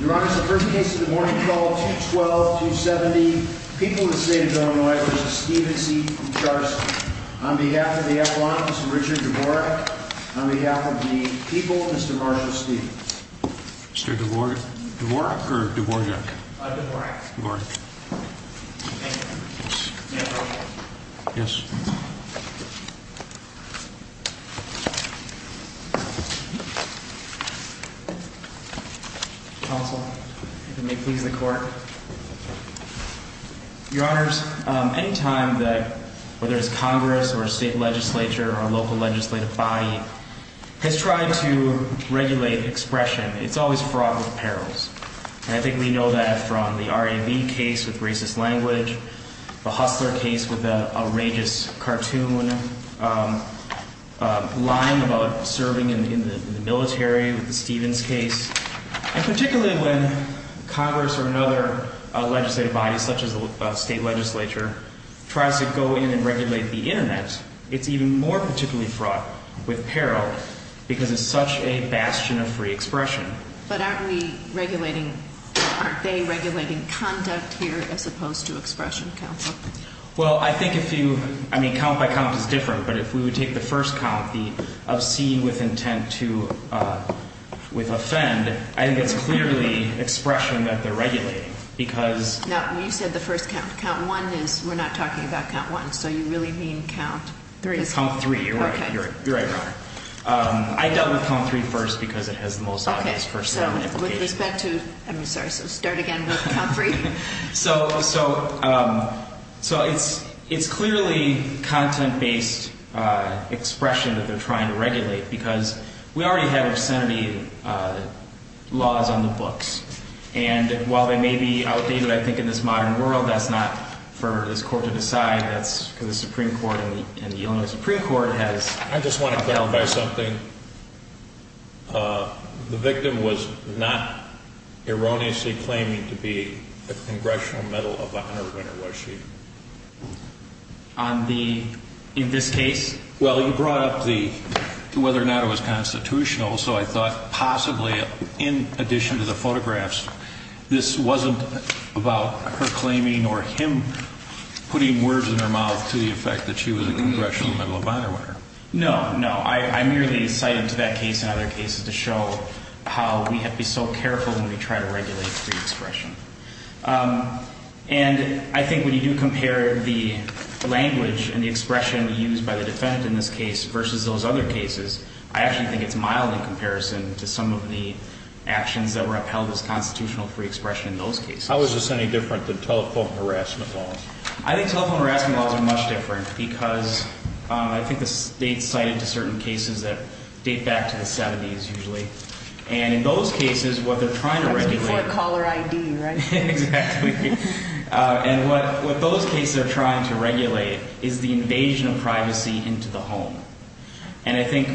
Your Honor, the first case of the morning is called 212-270, People v. State of Illinois v. Stevenson v. Kucharski. On behalf of the Appellant, Mr. Richard Dvorak. On behalf of the people, Mr. Marshall Stevens. Mr. Dvorak? Dvorak or Dvorak? Dvorak. Dvorak. Yes. Counsel, if it may please the court. Your Honors, any time that, whether it's Congress or a state legislature or a local legislative body, has tried to regulate expression, it's always fraught with perils. And I think we know that from the R.A.B. case with racist language, the Hustler case with the outrageous cartoon line about serving in the military with the Stevens case. And particularly when Congress or another legislative body, such as a state legislature, tries to go in and regulate the Internet, it's even more particularly fraught with peril because it's such a bastion of free expression. Right. But aren't we regulating, aren't they regulating conduct here as opposed to expression, Counsel? Well, I think if you, I mean, count by count is different, but if we would take the first count, the obscene with intent to, with offend, I think it's clearly expression that they're regulating because. No, you said the first count. Count one is, we're not talking about count one, so you really mean count three. Count three, you're right. You're right, Your Honor. I dealt with count three first because it has the most obvious first element. Okay, so with respect to, I'm sorry, so start again with count three. So, so, so it's, it's clearly content based expression that they're trying to regulate because we already have obscenity laws on the books. And while they may be outdated, I think in this modern world, that's not for this court to decide. That's because the Supreme Court and the Illinois Supreme Court has. I just want to clarify something. The victim was not erroneously claiming to be a Congressional Medal of Honor winner, was she? On the, in this case? Well, you brought up the, whether or not it was constitutional, so I thought possibly in addition to the photographs, this wasn't about her claiming or him putting words in her mouth to the effect that she was a Congressional Medal of Honor winner. No, no, I, I merely cited to that case and other cases to show how we have to be so careful when we try to regulate free expression. And I think when you do compare the language and the expression used by the defendant in this case versus those other cases, I actually think it's mild in comparison to some of the actions that were upheld as constitutional free expression in those cases. How is this any different than telephone harassment laws? I think telephone harassment laws are much different because I think the state cited to certain cases that date back to the 70s usually. And in those cases, what they're trying to regulate. That was before caller ID, right? Exactly. And what, what those cases are trying to regulate is the invasion of privacy into the home. And I think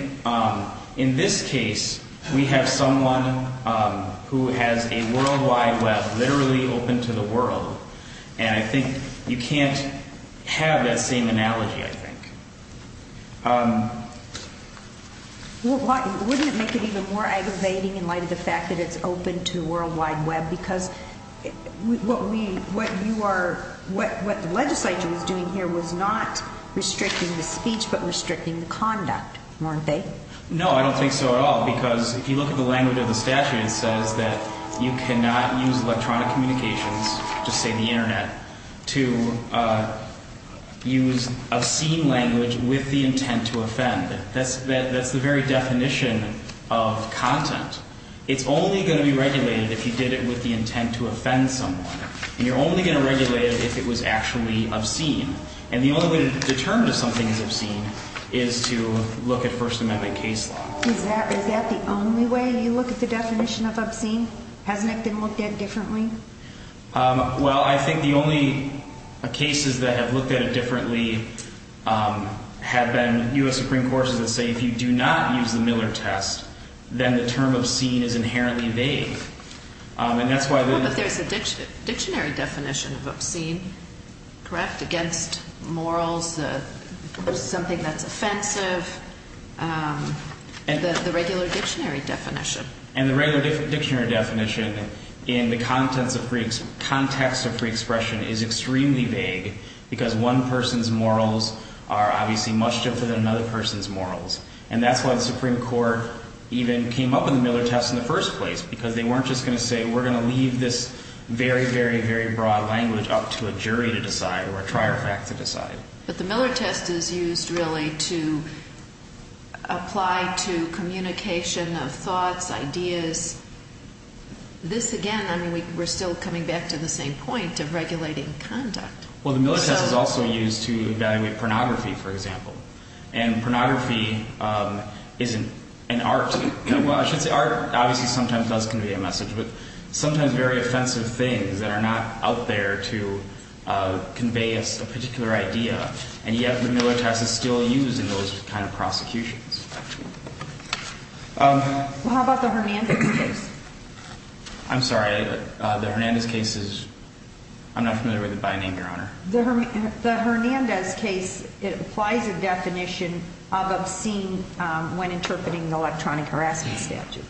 in this case, we have someone who has a World Wide Web literally open to the world, and I think you can't have that same analogy, I think. Wouldn't it make it even more aggravating in light of the fact that it's open to World Wide Web? Because what we, what you are, what, what the legislature was doing here was not restricting the speech, but restricting the conduct, weren't they? No, I don't think so at all. Because if you look at the language of the statute, it says that you cannot use electronic communications, just say the Internet, to use obscene language with the intent to offend. That's the very definition of content. It's only going to be regulated if you did it with the intent to offend someone. And you're only going to regulate it if it was actually obscene. And the only way to determine if something is obscene is to look at First Amendment case law. Is that, is that the only way you look at the definition of obscene? Hasn't it been looked at differently? Well, I think the only cases that have looked at it differently have been U.S. Supreme Courts that say if you do not use the Miller test, then the term obscene is inherently vague. And that's why the... Well, but there's a dictionary definition of obscene, correct? Against morals, something that's offensive, the regular dictionary definition. And the regular dictionary definition in the context of free expression is extremely vague because one person's morals are obviously much different than another person's morals. And that's why the Supreme Court even came up with the Miller test in the first place, because they weren't just going to say we're going to leave this very, very, very broad language up to a jury to decide or a trier fact to decide. But the Miller test is used really to apply to communication of thoughts, ideas. This again, I mean, we're still coming back to the same point of regulating conduct. Well, the Miller test is also used to evaluate pornography, for example. And pornography is an art. Well, I should say art obviously sometimes does convey a message, but sometimes very offensive things that are not out there to convey a particular idea. And yet the Miller test is still used in those kind of prosecutions. Well, how about the Hernandez case? I'm sorry, the Hernandez case is, I'm not familiar with it by name, Your Honor. The Hernandez case, it applies a definition of obscene when interpreting electronic harassment statute.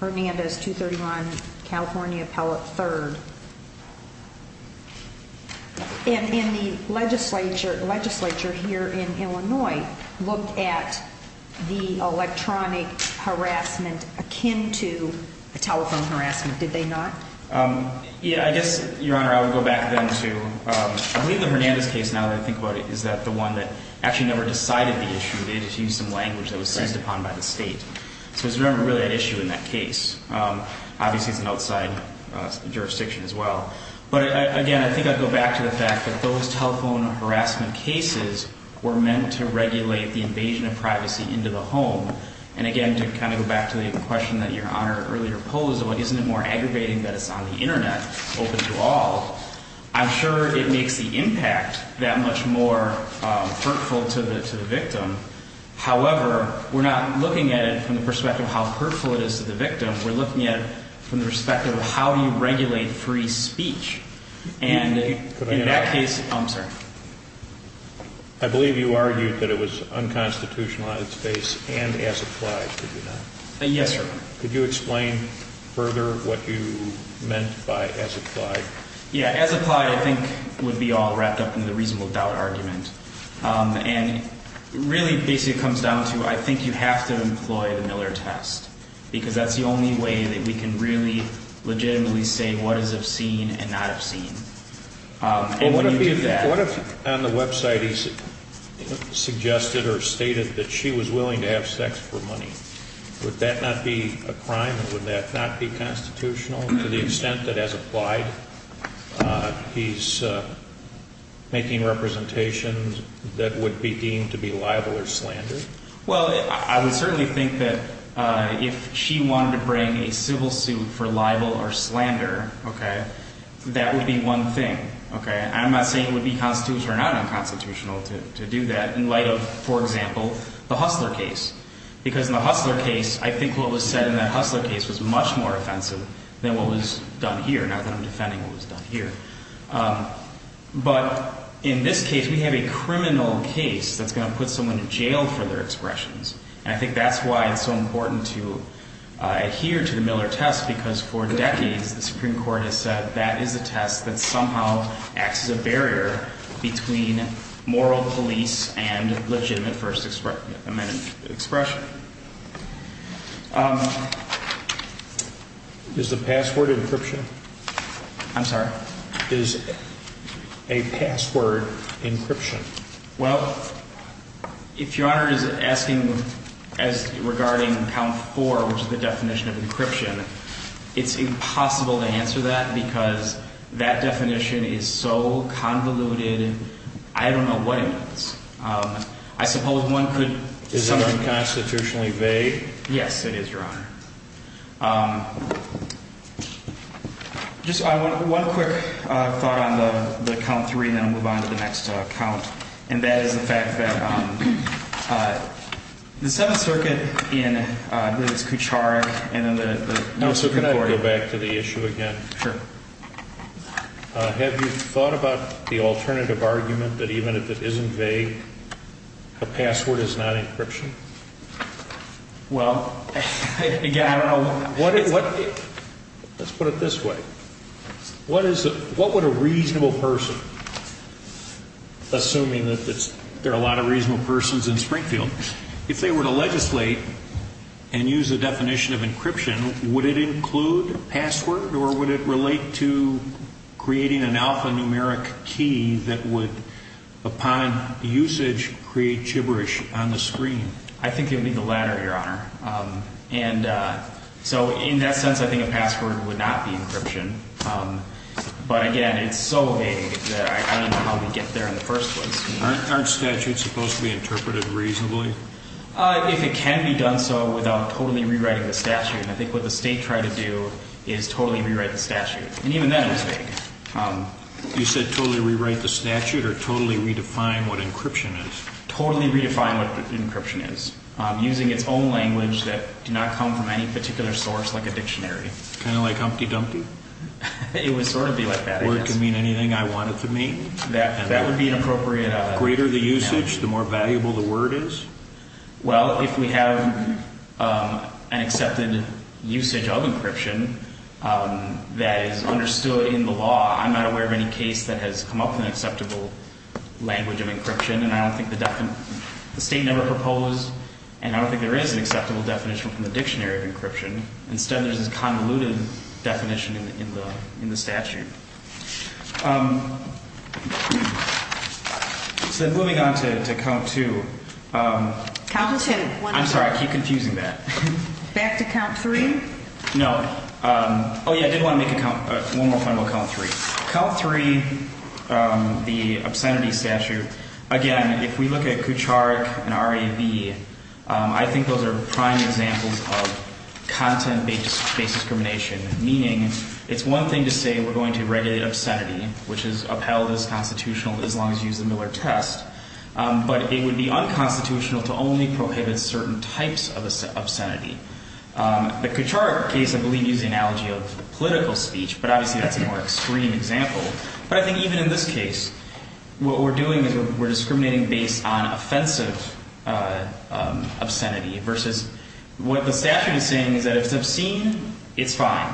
Hernandez 231, California Appellate 3rd. And the legislature here in Illinois looked at the electronic harassment akin to a telephone harassment. Did they not? Yeah, I guess, Your Honor, I would go back then to, I believe the Hernandez case, now that I think about it, is that the one that actually never decided the issue. They just used some language that was seized upon by the state. So it's not really an issue in that case. Obviously, it's an outside jurisdiction as well. But again, I think I'd go back to the fact that those telephone harassment cases were meant to regulate the invasion of privacy into the home. And again, to kind of go back to the question that Your Honor earlier posed, well, isn't it more aggravating that it's on the Internet open to all? I'm sure it makes the impact that much more hurtful to the victim. However, we're not looking at it from the perspective of how hurtful it is to the victim. We're looking at it from the perspective of how you regulate free speech. And in that case, I'm sorry. I believe you argued that it was unconstitutional on its face and as applied, did you not? Yes, sir. Could you explain further what you meant by as applied? Yeah, as applied I think would be all wrapped up in the reasonable doubt argument. And really basically it comes down to I think you have to employ the Miller test because that's the only way that we can really legitimately say what is obscene and not obscene. What if on the website he suggested or stated that she was willing to have sex for money? Would that not be a crime? Would that not be constitutional to the extent that as applied he's making representations that would be deemed to be libel or slander? Well, I would certainly think that if she wanted to bring a civil suit for libel or slander, that would be one thing. I'm not saying it would be constitutional or not unconstitutional to do that in light of, for example, the Hustler case. Because in the Hustler case, I think what was said in that Hustler case was much more offensive than what was done here, now that I'm defending what was done here. But in this case, we have a criminal case that's going to put someone in jail for their expressions. And I think that's why it's so important to adhere to the Miller test because for decades the Supreme Court has said that is a test that somehow acts as a barrier between moral police and legitimate first amendment expression. Is the password encryption? I'm sorry? Is a password encryption? Well, if Your Honor is asking as regarding count four, which is the definition of encryption, it's impossible to answer that because that definition is so convoluted, I don't know what it is. I suppose one could... Is it unconstitutionally vague? Yes, it is, Your Honor. Just one quick thought on the count three and then we'll move on to the next count, and that is the fact that the Seventh Circuit in Kucharick and then the... No, so can I go back to the issue again? Sure. Have you thought about the alternative argument that even if it isn't vague, a password is not encryption? Well, again, let's put it this way. What would a reasonable person, assuming that there are a lot of reasonable persons in Springfield, if they were to legislate and use the definition of encryption, would it include password or would it relate to creating an alphanumeric key that would, upon usage, create gibberish on the screen? I think it would be the latter, Your Honor. And so in that sense, I think a password would not be encryption. But again, it's so vague that I don't know how we'd get there in the first place. Aren't statutes supposed to be interpreted reasonably? If it can be done so without totally rewriting the statute, and I think what the state tried to do is totally rewrite the statute. And even then it was vague. You said totally rewrite the statute or totally redefine what encryption is? Totally redefine what encryption is, using its own language that did not come from any particular source like a dictionary. Kind of like Humpty Dumpty? It would sort of be like that, I guess. Or it could mean anything I want it to mean? That would be an appropriate… The greater the usage, the more valuable the word is? Well, if we have an accepted usage of encryption that is understood in the law, I'm not aware of any case that has come up with an acceptable language of encryption. And I don't think the state never proposed, and I don't think there is an acceptable definition from the dictionary of encryption. Instead, there's this convoluted definition in the statute. So moving on to count two. Count two. I'm sorry, I keep confusing that. Back to count three? No. Oh, yeah, I did want to make one more point about count three. Count three, the obscenity statute, again, if we look at Kucharik and RAB, I think those are prime examples of content-based discrimination. Meaning, it's one thing to say we're going to regulate obscenity, which is upheld as constitutional as long as you use the Miller test. But it would be unconstitutional to only prohibit certain types of obscenity. The Kucharik case, I believe, used the analogy of political speech, but obviously that's a more extreme example. But I think even in this case, what we're doing is we're discriminating based on offensive obscenity. Versus what the statute is saying is that if it's obscene, it's fine.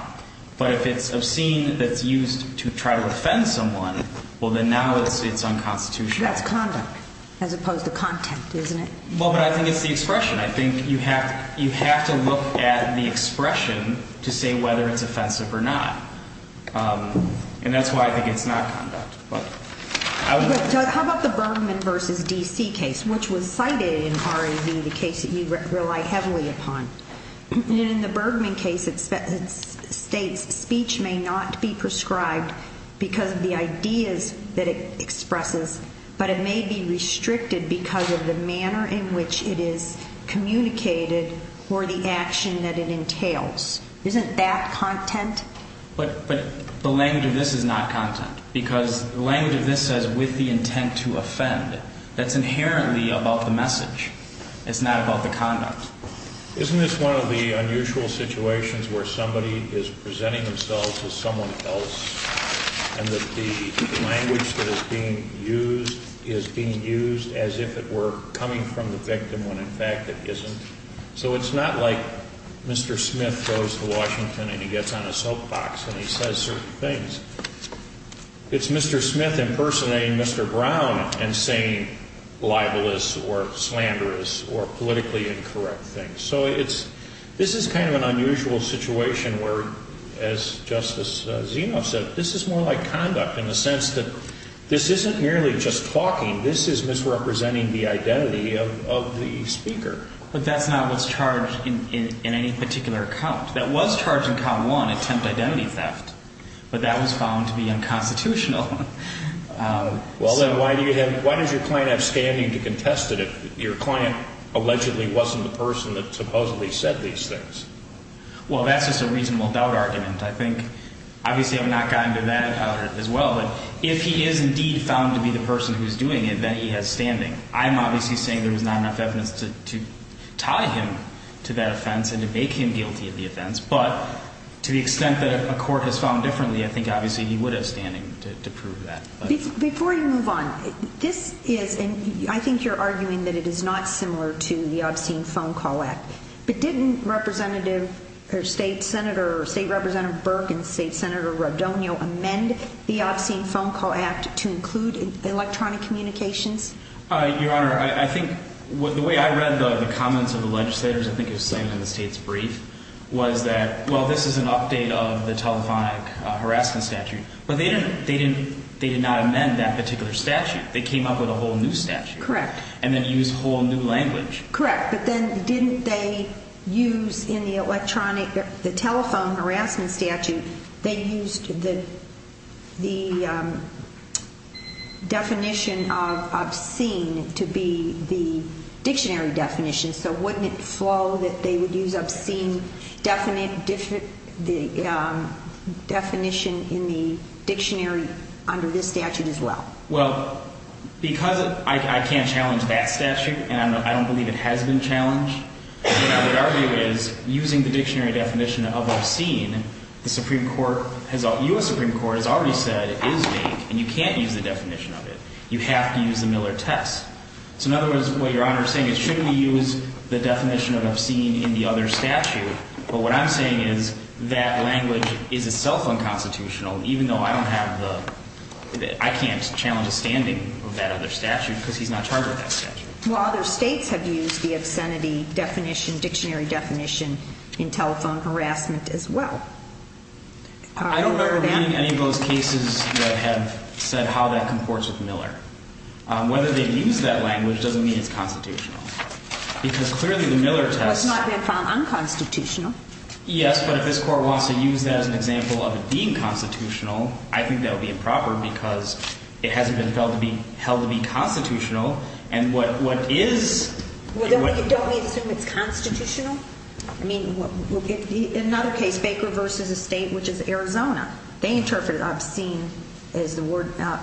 But if it's obscene that's used to try to offend someone, well, then now it's unconstitutional. That's conduct as opposed to content, isn't it? Well, but I think it's the expression. I think you have to look at the expression to say whether it's offensive or not. And that's why I think it's not conduct. How about the Bergman v. D.C. case, which was cited in R.A.V., the case that you rely heavily upon? In the Bergman case, it states speech may not be prescribed because of the ideas that it expresses, but it may be restricted because of the manner in which it is communicated or the action that it entails. Isn't that content? But the language of this is not content because the language of this says with the intent to offend. That's inherently about the message. It's not about the conduct. Isn't this one of the unusual situations where somebody is presenting themselves as someone else and that the language that is being used is being used as if it were coming from the victim when in fact it isn't? So it's not like Mr. Smith goes to Washington and he gets on a soapbox and he says certain things. It's Mr. Smith impersonating Mr. Brown and saying libelous or slanderous or politically incorrect things. So this is kind of an unusual situation where, as Justice Zenoff said, this is more like conduct in the sense that this isn't merely just talking. This is misrepresenting the identity of the speaker. But that's not what's charged in any particular count. That was charged in count one, attempt identity theft, but that was found to be unconstitutional. Well, then why does your client have standing to contest it if your client allegedly wasn't the person that supposedly said these things? Well, that's just a reasonable doubt argument. I think obviously I've not gotten to that as well. But if he is indeed found to be the person who's doing it, then he has standing. I'm obviously saying there is not enough evidence to tie him to that offense and to make him guilty of the offense. But to the extent that a court has found differently, I think obviously he would have standing to prove that. Before you move on, this is, and I think you're arguing that it is not similar to the obscene phone call act. But didn't Representative or State Senator, State Representative Burke and State Senator Redonio amend the obscene phone call act to include electronic communications? Your Honor, I think the way I read the comments of the legislators, I think it was the same in the State's brief, was that, well, this is an update of the telephonic harassment statute. But they did not amend that particular statute. They came up with a whole new statute. Correct. And then used a whole new language. Correct. But then didn't they use in the telephone harassment statute, they used the definition of obscene to be the dictionary definition. So wouldn't it flow that they would use obscene definition in the dictionary under this statute as well? Well, because I can't challenge that statute, and I don't believe it has been challenged, what I would argue is, using the dictionary definition of obscene, the Supreme Court has, U.S. Supreme Court has already said, is vague. And you can't use the definition of it. You have to use the Miller test. So in other words, what Your Honor is saying is, shouldn't we use the definition of obscene in the other statute? But what I'm saying is, that language is itself unconstitutional, even though I don't have the, I can't challenge the standing of that other statute, because he's not charged with that statute. Well, other States have used the obscenity definition, dictionary definition, in telephone harassment as well. I don't remember reading any of those cases that have said how that comports with Miller. Whether they've used that language doesn't mean it's constitutional. Because clearly the Miller test. Well, it's not been found unconstitutional. Yes, but if this Court wants to use that as an example of it being constitutional, I think that would be improper, because it hasn't been held to be constitutional. And what is. Don't we assume it's constitutional? I mean, in another case, Baker v. Estate, which is Arizona, they interpreted obscene as the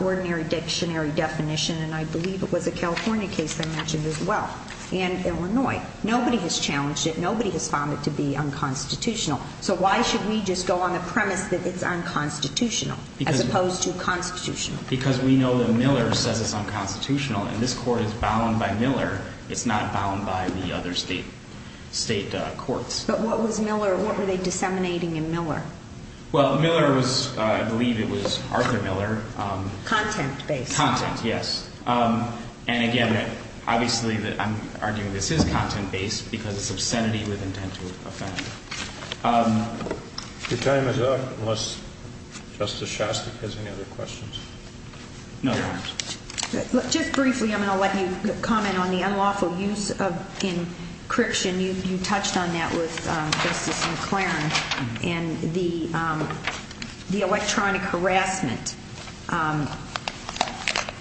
ordinary dictionary definition. And I believe it was a California case I mentioned as well. And Illinois. Nobody has challenged it. Nobody has found it to be unconstitutional. So why should we just go on the premise that it's unconstitutional, as opposed to constitutional? Because we know that Miller says it's unconstitutional. And this Court is bound by Miller. It's not bound by the other State courts. But what was Miller, what were they disseminating in Miller? Well, Miller was, I believe it was Arthur Miller. Content-based. Content, yes. And again, obviously, I'm arguing this is content-based because it's obscenity with intent to offend. Your time is up, unless Justice Shostak has any other questions. No. Just briefly, I'm going to let you comment on the unlawful use of encryption. You touched on that with Justice McClaren. And the electronic harassment,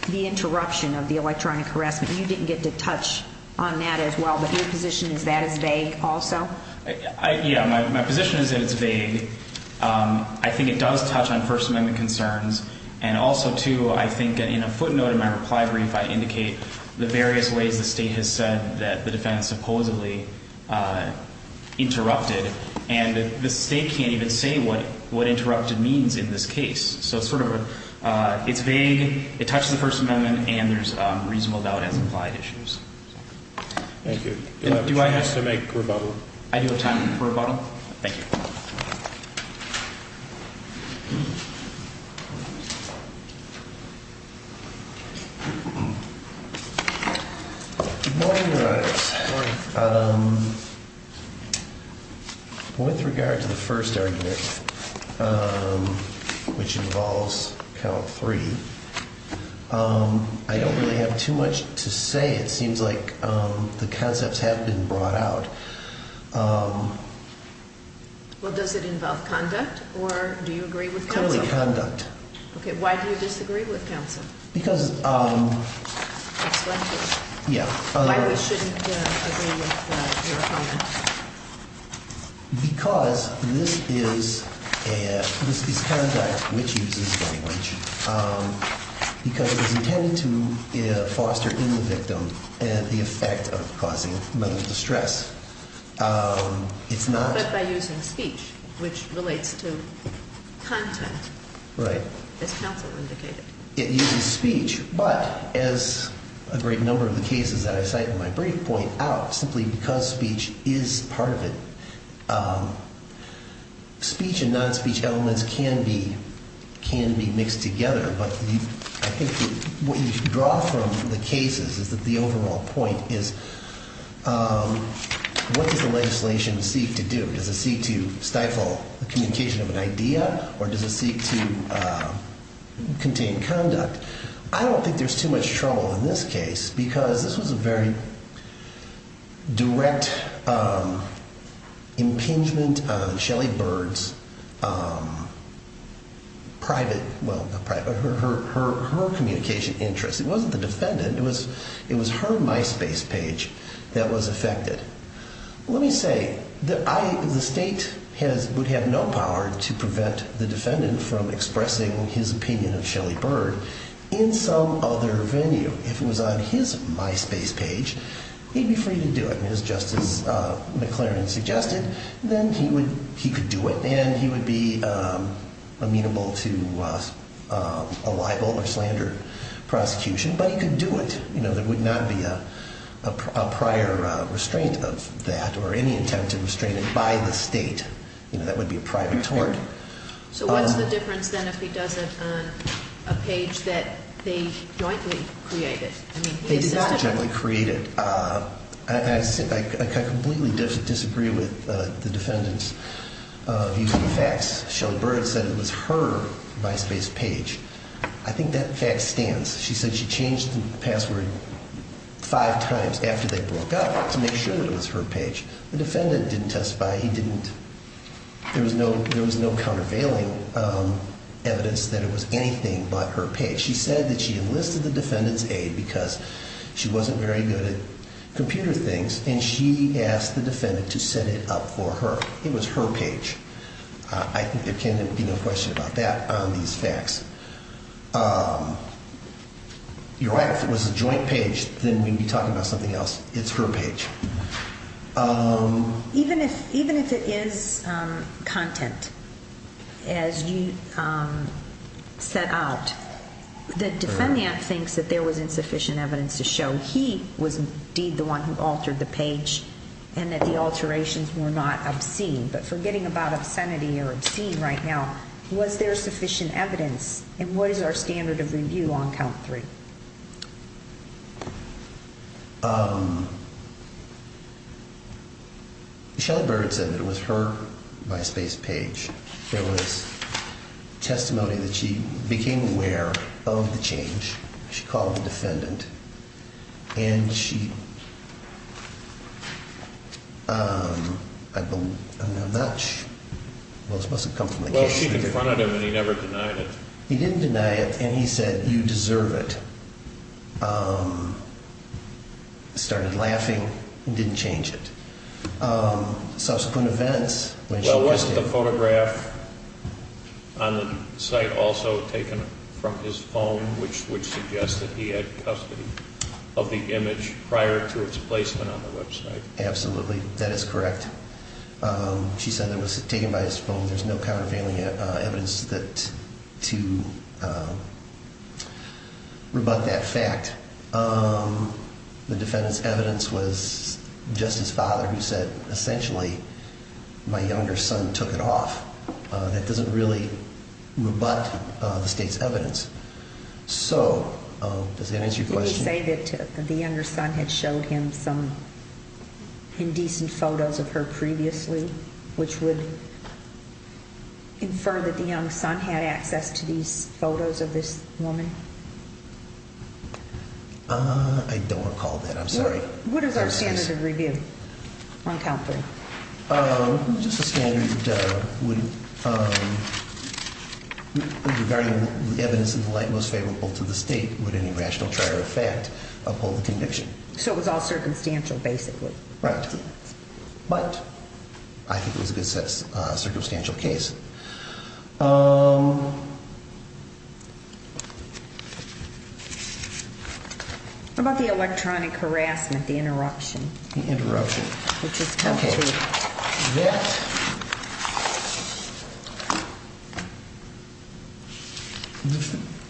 the interruption of the electronic harassment, you didn't get to touch on that as well. But your position is that it's vague also? Yeah, my position is that it's vague. I think it does touch on First Amendment concerns. And also, too, I think in a footnote in my reply brief I indicate the various ways the State has said that the defense supposedly interrupted. And the State can't even say what interrupted means in this case. So it's sort of a, it's vague, it touches the First Amendment, and there's reasonable doubt as implied issues. Thank you. Do you have a chance to make a rebuttal? I do have time for a rebuttal. Good morning, Your Honor. Good morning. With regard to the first argument, which involves count three, I don't really have too much to say. It seems like the concepts have been brought out. Well, does it involve conduct, or do you agree with counsel? Totally conduct. Okay, why do you disagree with counsel? Because, yeah. Why we shouldn't agree with your opinion? Because this is conduct which uses language, because it is intended to foster in the victim the effect of causing mental distress. But by using speech, which relates to content, as counsel indicated. It uses speech, but as a great number of the cases that I cite in my brief point out, simply because speech is part of it. Speech and non-speech elements can be mixed together, but I think what you can draw from the cases is that the overall point is what does the legislation seek to do? Does it seek to stifle the communication of an idea, or does it seek to contain conduct? I don't think there's too much trouble in this case, because this was a very direct impingement on Shelley Bird's private, well, not private, but her communication interests. It wasn't the defendant. It was her MySpace page that was affected. Let me say that the state would have no power to prevent the defendant from expressing his opinion of Shelley Bird in some other venue. If it was on his MySpace page, he'd be free to do it, just as McLaren suggested. Then he could do it, and he would be amenable to a libel or slander prosecution. Anybody could do it. There would not be a prior restraint of that or any intent to restrain it by the state. That would be a private tort. So what's the difference, then, if he does it on a page that they jointly created? They did not jointly create it. I completely disagree with the defendant's view of the facts. Shelley Bird said it was her MySpace page. I think that fact stands. She said she changed the password five times after they broke up to make sure it was her page. The defendant didn't testify. He didn't. There was no countervailing evidence that it was anything but her page. She said that she enlisted the defendant's aid because she wasn't very good at computer things, and she asked the defendant to set it up for her. It was her page. I think there can be no question about that on these facts. If it was a joint page, then we'd be talking about something else. It's her page. Even if it is content, as you set out, the defendant thinks that there was insufficient evidence to show he was indeed the one who altered the page and that the alterations were not obscene. But forgetting about obscenity or obscene right now, was there sufficient evidence? And what is our standard of review on count three? Shelley Bird said that it was her MySpace page. There was testimony that she became aware of the change. She called the defendant. I don't know how much. Well, this must have come from the case. Well, she confronted him, and he never denied it. He didn't deny it, and he said, you deserve it. He started laughing and didn't change it. Well, wasn't the photograph on the site also taken from his phone, which would suggest that he had custody of the image prior to its placement on the website? Absolutely. That is correct. She said it was taken by his phone. There's no counterfeiting evidence to rebut that fact. The defendant's evidence was just his father who said, essentially, my younger son took it off. That doesn't really rebut the state's evidence. So does that answer your question? Did he say that the younger son had showed him some indecent photos of her previously, which would infer that the young son had access to these photos of this woman? I don't recall that. I'm sorry. What is our standard of review on count three? Just a standard would, regarding the evidence in the light most favorable to the state, would any rational threat or effect uphold the conviction. So it was all circumstantial, basically. Right. But I think it was a good circumstantial case. What about the electronic harassment, the interruption? The interruption. Which is count three. OK. That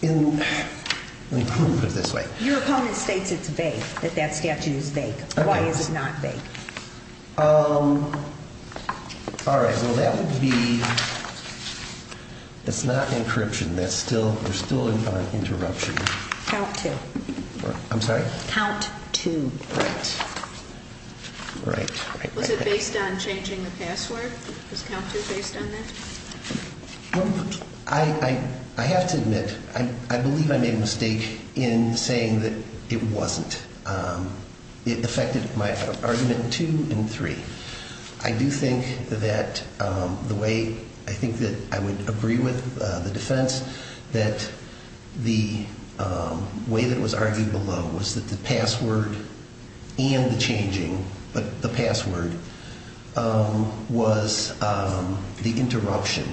in, let me put it this way. Your opponent states it's vague, that that statute is vague. Why is it not vague? All right. Well, that would be, that's not encryption. That's still, we're still on interruption. Count two. I'm sorry? Count two. Right. Right. Was it based on changing the password? Was count two based on that? I have to admit, I believe I made a mistake in saying that it wasn't. It affected my argument two and three. I do think that the way, I think that I would agree with the defense that the way that it was argued below was that the password and the changing, but the password, was the interruption.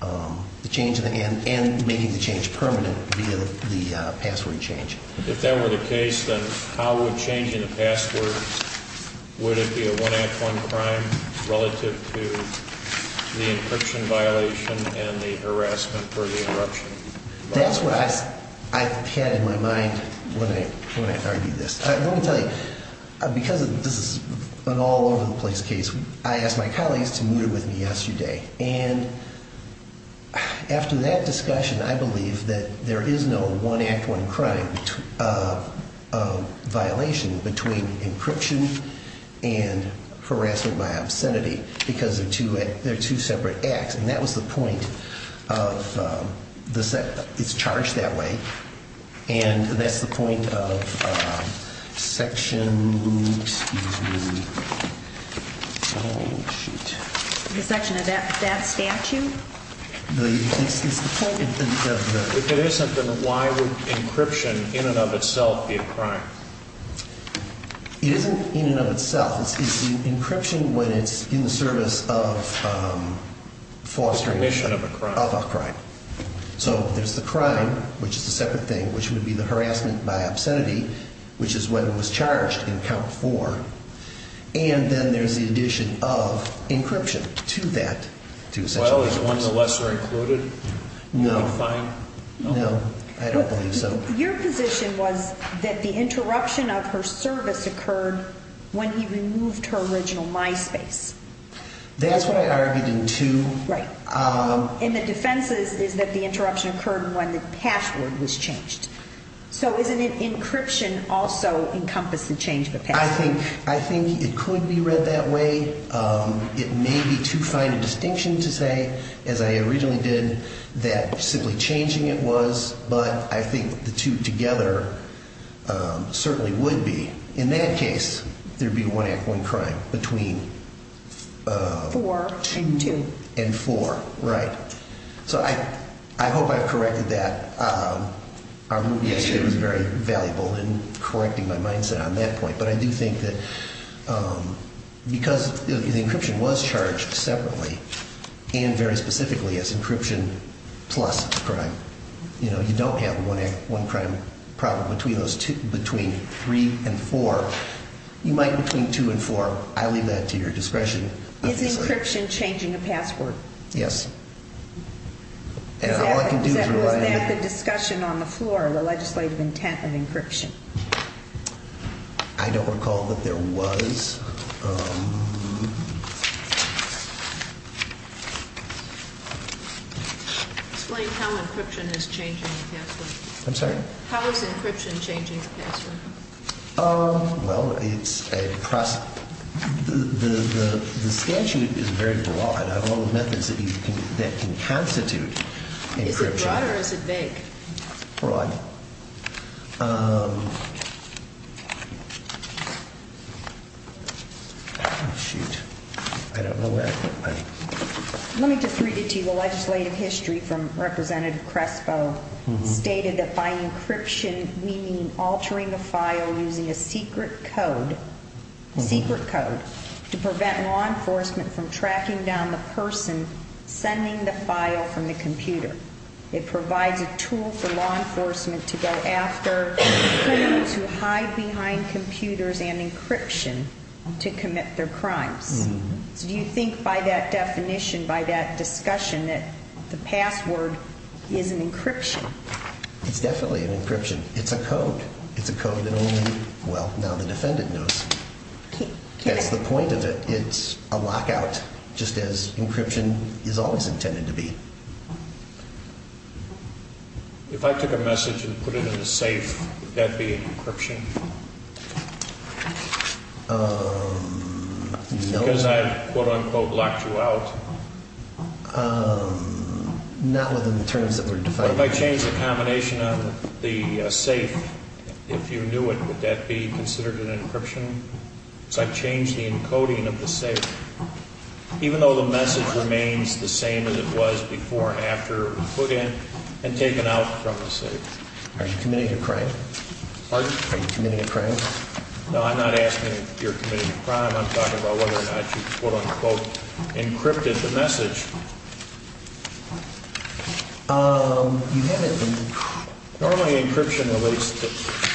The change and making the change permanent via the password change. If that were the case, then how would changing the password, would it be a one act one crime relative to the encryption violation and the harassment for the interruption? That's what I had in my mind when I argued this. Let me tell you, because this is an all over the place case, I asked my colleagues to meet with me yesterday. And after that discussion, I believe that there is no one act one crime violation between encryption and harassment by obscenity because they're two separate acts. And that was the point of, it's charged that way. And that's the point of section, excuse me. The section of that statute? If it isn't, then why would encryption in and of itself be a crime? It isn't in and of itself. It's the encryption when it's in the service of fostering. Permission of a crime. So there's the crime, which is the separate thing, which would be the harassment by obscenity, which is when it was charged in count four. And then there's the addition of encryption to that. Well, is one of the lesser included? No. No, I don't believe so. Your position was that the interruption of her service occurred when he removed her original MySpace. That's what I argued in two. Right. And the defense is that the interruption occurred when the password was changed. So isn't it encryption also encompass the change? I think it could be read that way. It may be too fine a distinction to say, as I originally did, that simply changing it was. But I think the two together certainly would be. In that case, there'd be one act, one crime between. Four and two. And four. Right. So I hope I've corrected that. Our movie yesterday was very valuable in correcting my mindset on that point. But I do think that because the encryption was charged separately and very specifically as encryption plus crime. You know, you don't have one crime problem between those two, between three and four. You might between two and four. I leave that to your discretion. Is encryption changing a password? Yes. And all I can do is rely on you. Was that the discussion on the floor, the legislative intent of encryption? I don't recall that there was. Explain how encryption is changing the password. I'm sorry? How is encryption changing the password? Well, it's a process. The statute is very broad. I have all the methods that can constitute encryption. Is it broad or is it vague? Broad. Shoot. I don't know that. Let me just read it to you. The legislative history from Representative Crespo stated that by encryption we mean altering the file using a secret code, secret code, to prevent law enforcement from tracking down the person sending the file from the computer. It provides a tool for law enforcement to go after criminals who hide behind computers and encryption to commit their crimes. So do you think by that definition, by that discussion, that the password is an encryption? It's definitely an encryption. It's a code. It's a code that only, well, now the defendant knows. That's the point of it. It's a lockout, just as encryption is always intended to be. If I took a message and put it in a safe, would that be an encryption? Because I have, quote, unquote, locked you out? Not within the terms that were defined. If I change the combination of the safe, if you knew it, would that be considered an encryption? Because I've changed the encoding of the safe, even though the message remains the same as it was before and after it was put in and taken out from the safe. Are you committing a crime? Pardon? Are you committing a crime? No, I'm not asking if you're committing a crime. I'm talking about whether or not you, quote, unquote, encrypted the message. You haven't. Normally encryption, at least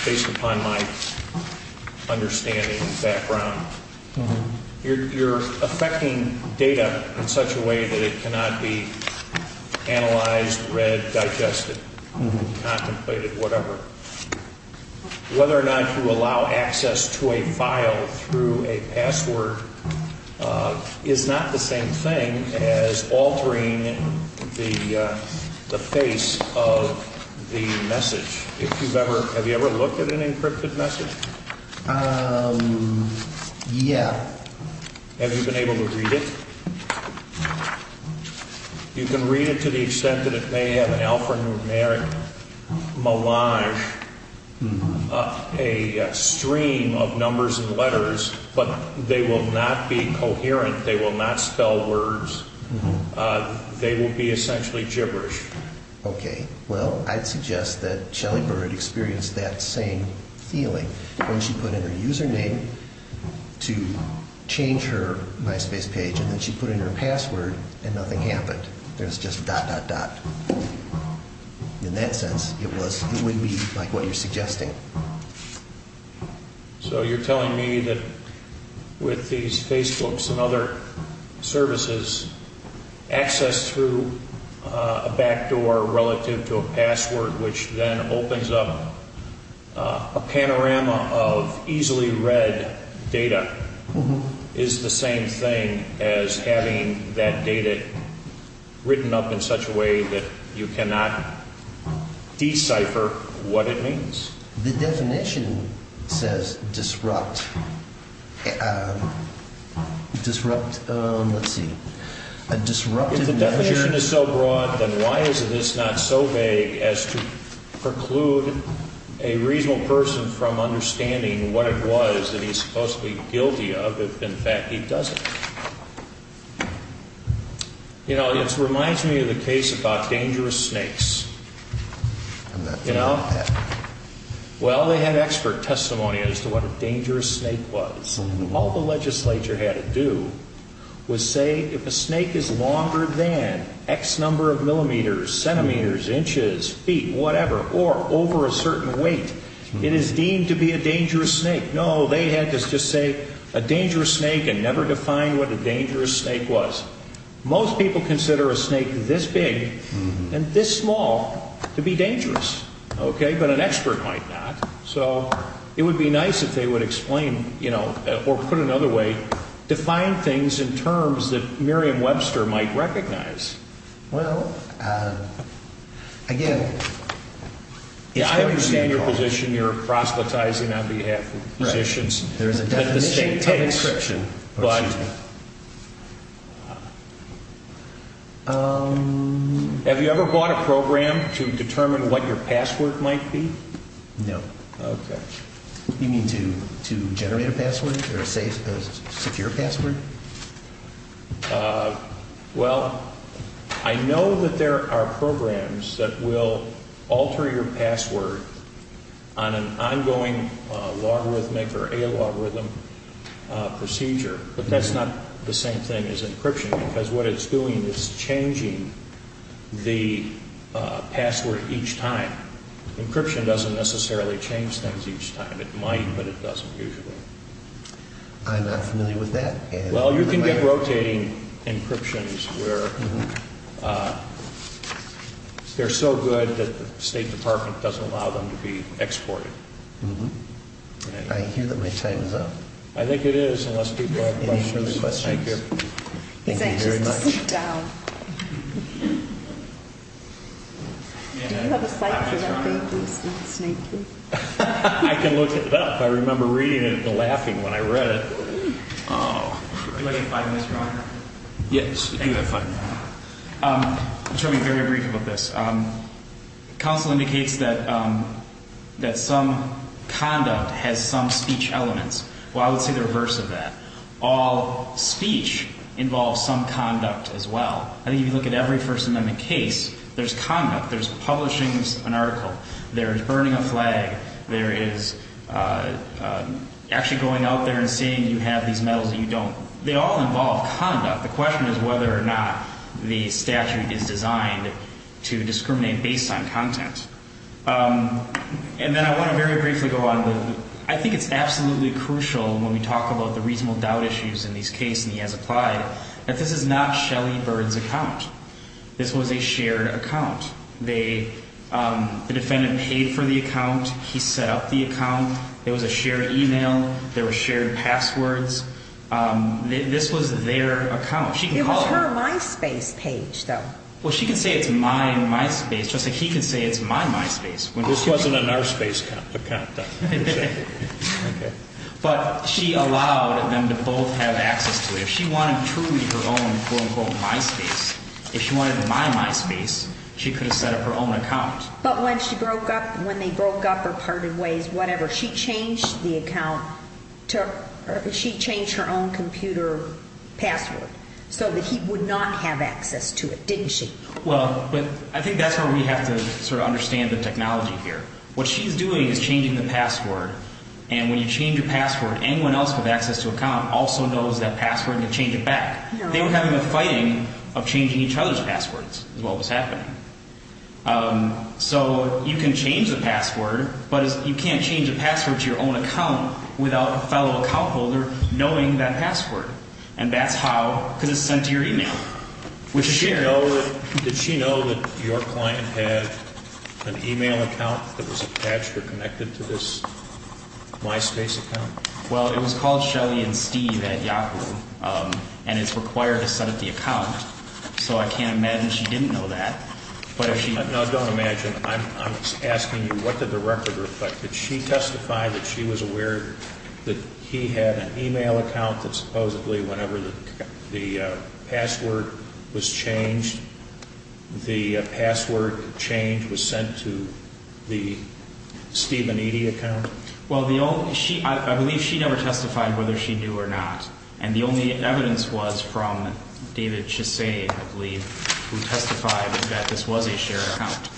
based upon my understanding and background, you're affecting data in such a way that it cannot be analyzed, read, digested, contemplated, whatever. Whether or not you allow access to a file through a password is not the same thing as altering the face of the message. Have you ever looked at an encrypted message? Yeah. Have you been able to read it? You can read it to the extent that it may have an alphanumeric melange, a stream of numbers and letters, but they will not be coherent. They will not spell words. They will be essentially gibberish. Okay. Well, I'd suggest that Shelley Byrd experienced that same feeling when she put in her username to change her MySpace page, and then she put in her password, and nothing happened. There's just dot, dot, dot. In that sense, it would be like what you're suggesting. So you're telling me that with these Facebooks and other services, access through a backdoor relative to a password, which then opens up a panorama of easily read data, is the same thing as having that data written up in such a way that you cannot decipher what it means? The definition says disrupt. Disrupt, let's see. If the definition is so broad, then why is this not so vague as to preclude a reasonable person from understanding what it was that he's supposedly guilty of if, in fact, he doesn't? You know, it reminds me of the case about dangerous snakes. You know, well, they had expert testimony as to what a dangerous snake was. All the legislature had to do was say if a snake is longer than X number of millimeters, centimeters, inches, feet, whatever, or over a certain weight, it is deemed to be a dangerous snake. No, they had to just say a dangerous snake and never define what a dangerous snake was. Most people consider a snake this big and this small to be dangerous, okay, but an expert might not. So it would be nice if they would explain, you know, or put it another way, define things in terms that Merriam-Webster might recognize. Well, again, it's going to be a problem. I understand your position. You're proselytizing on behalf of physicians. Right. There is a definition of encryption. But have you ever bought a program to determine what your password might be? No. Okay. You mean to generate a password or a secure password? Well, I know that there are programs that will alter your password on an ongoing logarithmic or a logarithm procedure. But that's not the same thing as encryption because what it's doing is changing the password each time. Encryption doesn't necessarily change things each time. It might, but it doesn't usually. I'm not familiar with that. Well, you can get rotating encryptions where they're so good that the State Department doesn't allow them to be exported. I hear that my time is up. I think it is, unless people have questions. Thank you. Thank you very much. He's anxious to sit down. Do you have a site for that thing, the snake booth? I can look it up. I remember reading it and laughing when I read it. I'll tell you very briefly about this. Counsel indicates that some conduct has some speech elements. Well, I would say the reverse of that. All speech involves some conduct as well. I think if you look at every First Amendment case, there's conduct. There's publishing an article. There's burning a flag. There is actually going out there and seeing you have these medals that you don't. They all involve conduct. The question is whether or not the statute is designed to discriminate based on content. And then I want to very briefly go on. I think it's absolutely crucial when we talk about the reasonable doubt issues in these cases, and he has applied, that this is not Shelly Bird's account. This was a shared account. The defendant paid for the account. He set up the account. It was a shared email. There were shared passwords. This was their account. It was her MySpace page, though. Well, she can say it's my MySpace. Just like he can say it's my MySpace. This wasn't an OurSpace account, though. But she allowed them to both have access to it. If she wanted truly her own, quote, unquote, MySpace, if she wanted my MySpace, she could have set up her own account. But when she broke up, when they broke up or parted ways, whatever, she changed the account. She changed her own computer password so that he would not have access to it, didn't she? Well, I think that's where we have to sort of understand the technology here. What she's doing is changing the password. And when you change a password, anyone else with access to an account also knows that password and can change it back. They were having a fighting of changing each other's passwords is what was happening. So you can change the password, but you can't change a password to your own account without a fellow account holder knowing that password. And that's how, because it's sent to your email. Did she know that your client had an email account that was attached or connected to this MySpace account? Well, it was called Shelly and Steve at Yahoo, and it's required to set up the account. So I can't imagine she didn't know that. No, don't imagine. I'm asking you, what did the record reflect? Did she testify that she was aware that he had an email account that supposedly whenever the password was changed, the password change was sent to the Steve and Edie account? Well, I believe she never testified whether she knew or not. And the only evidence was from David Chesay, I believe, who testified that this was a shared account.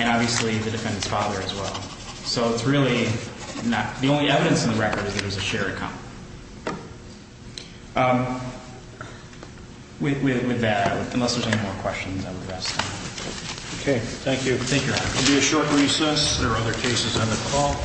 And obviously the defendant's father as well. So it's really not the only evidence in the record is that it was a shared account. With that, unless there's any more questions, I would rest. Okay. Thank you. Thank you, Your Honor. We'll do a short recess. There are other cases on the call.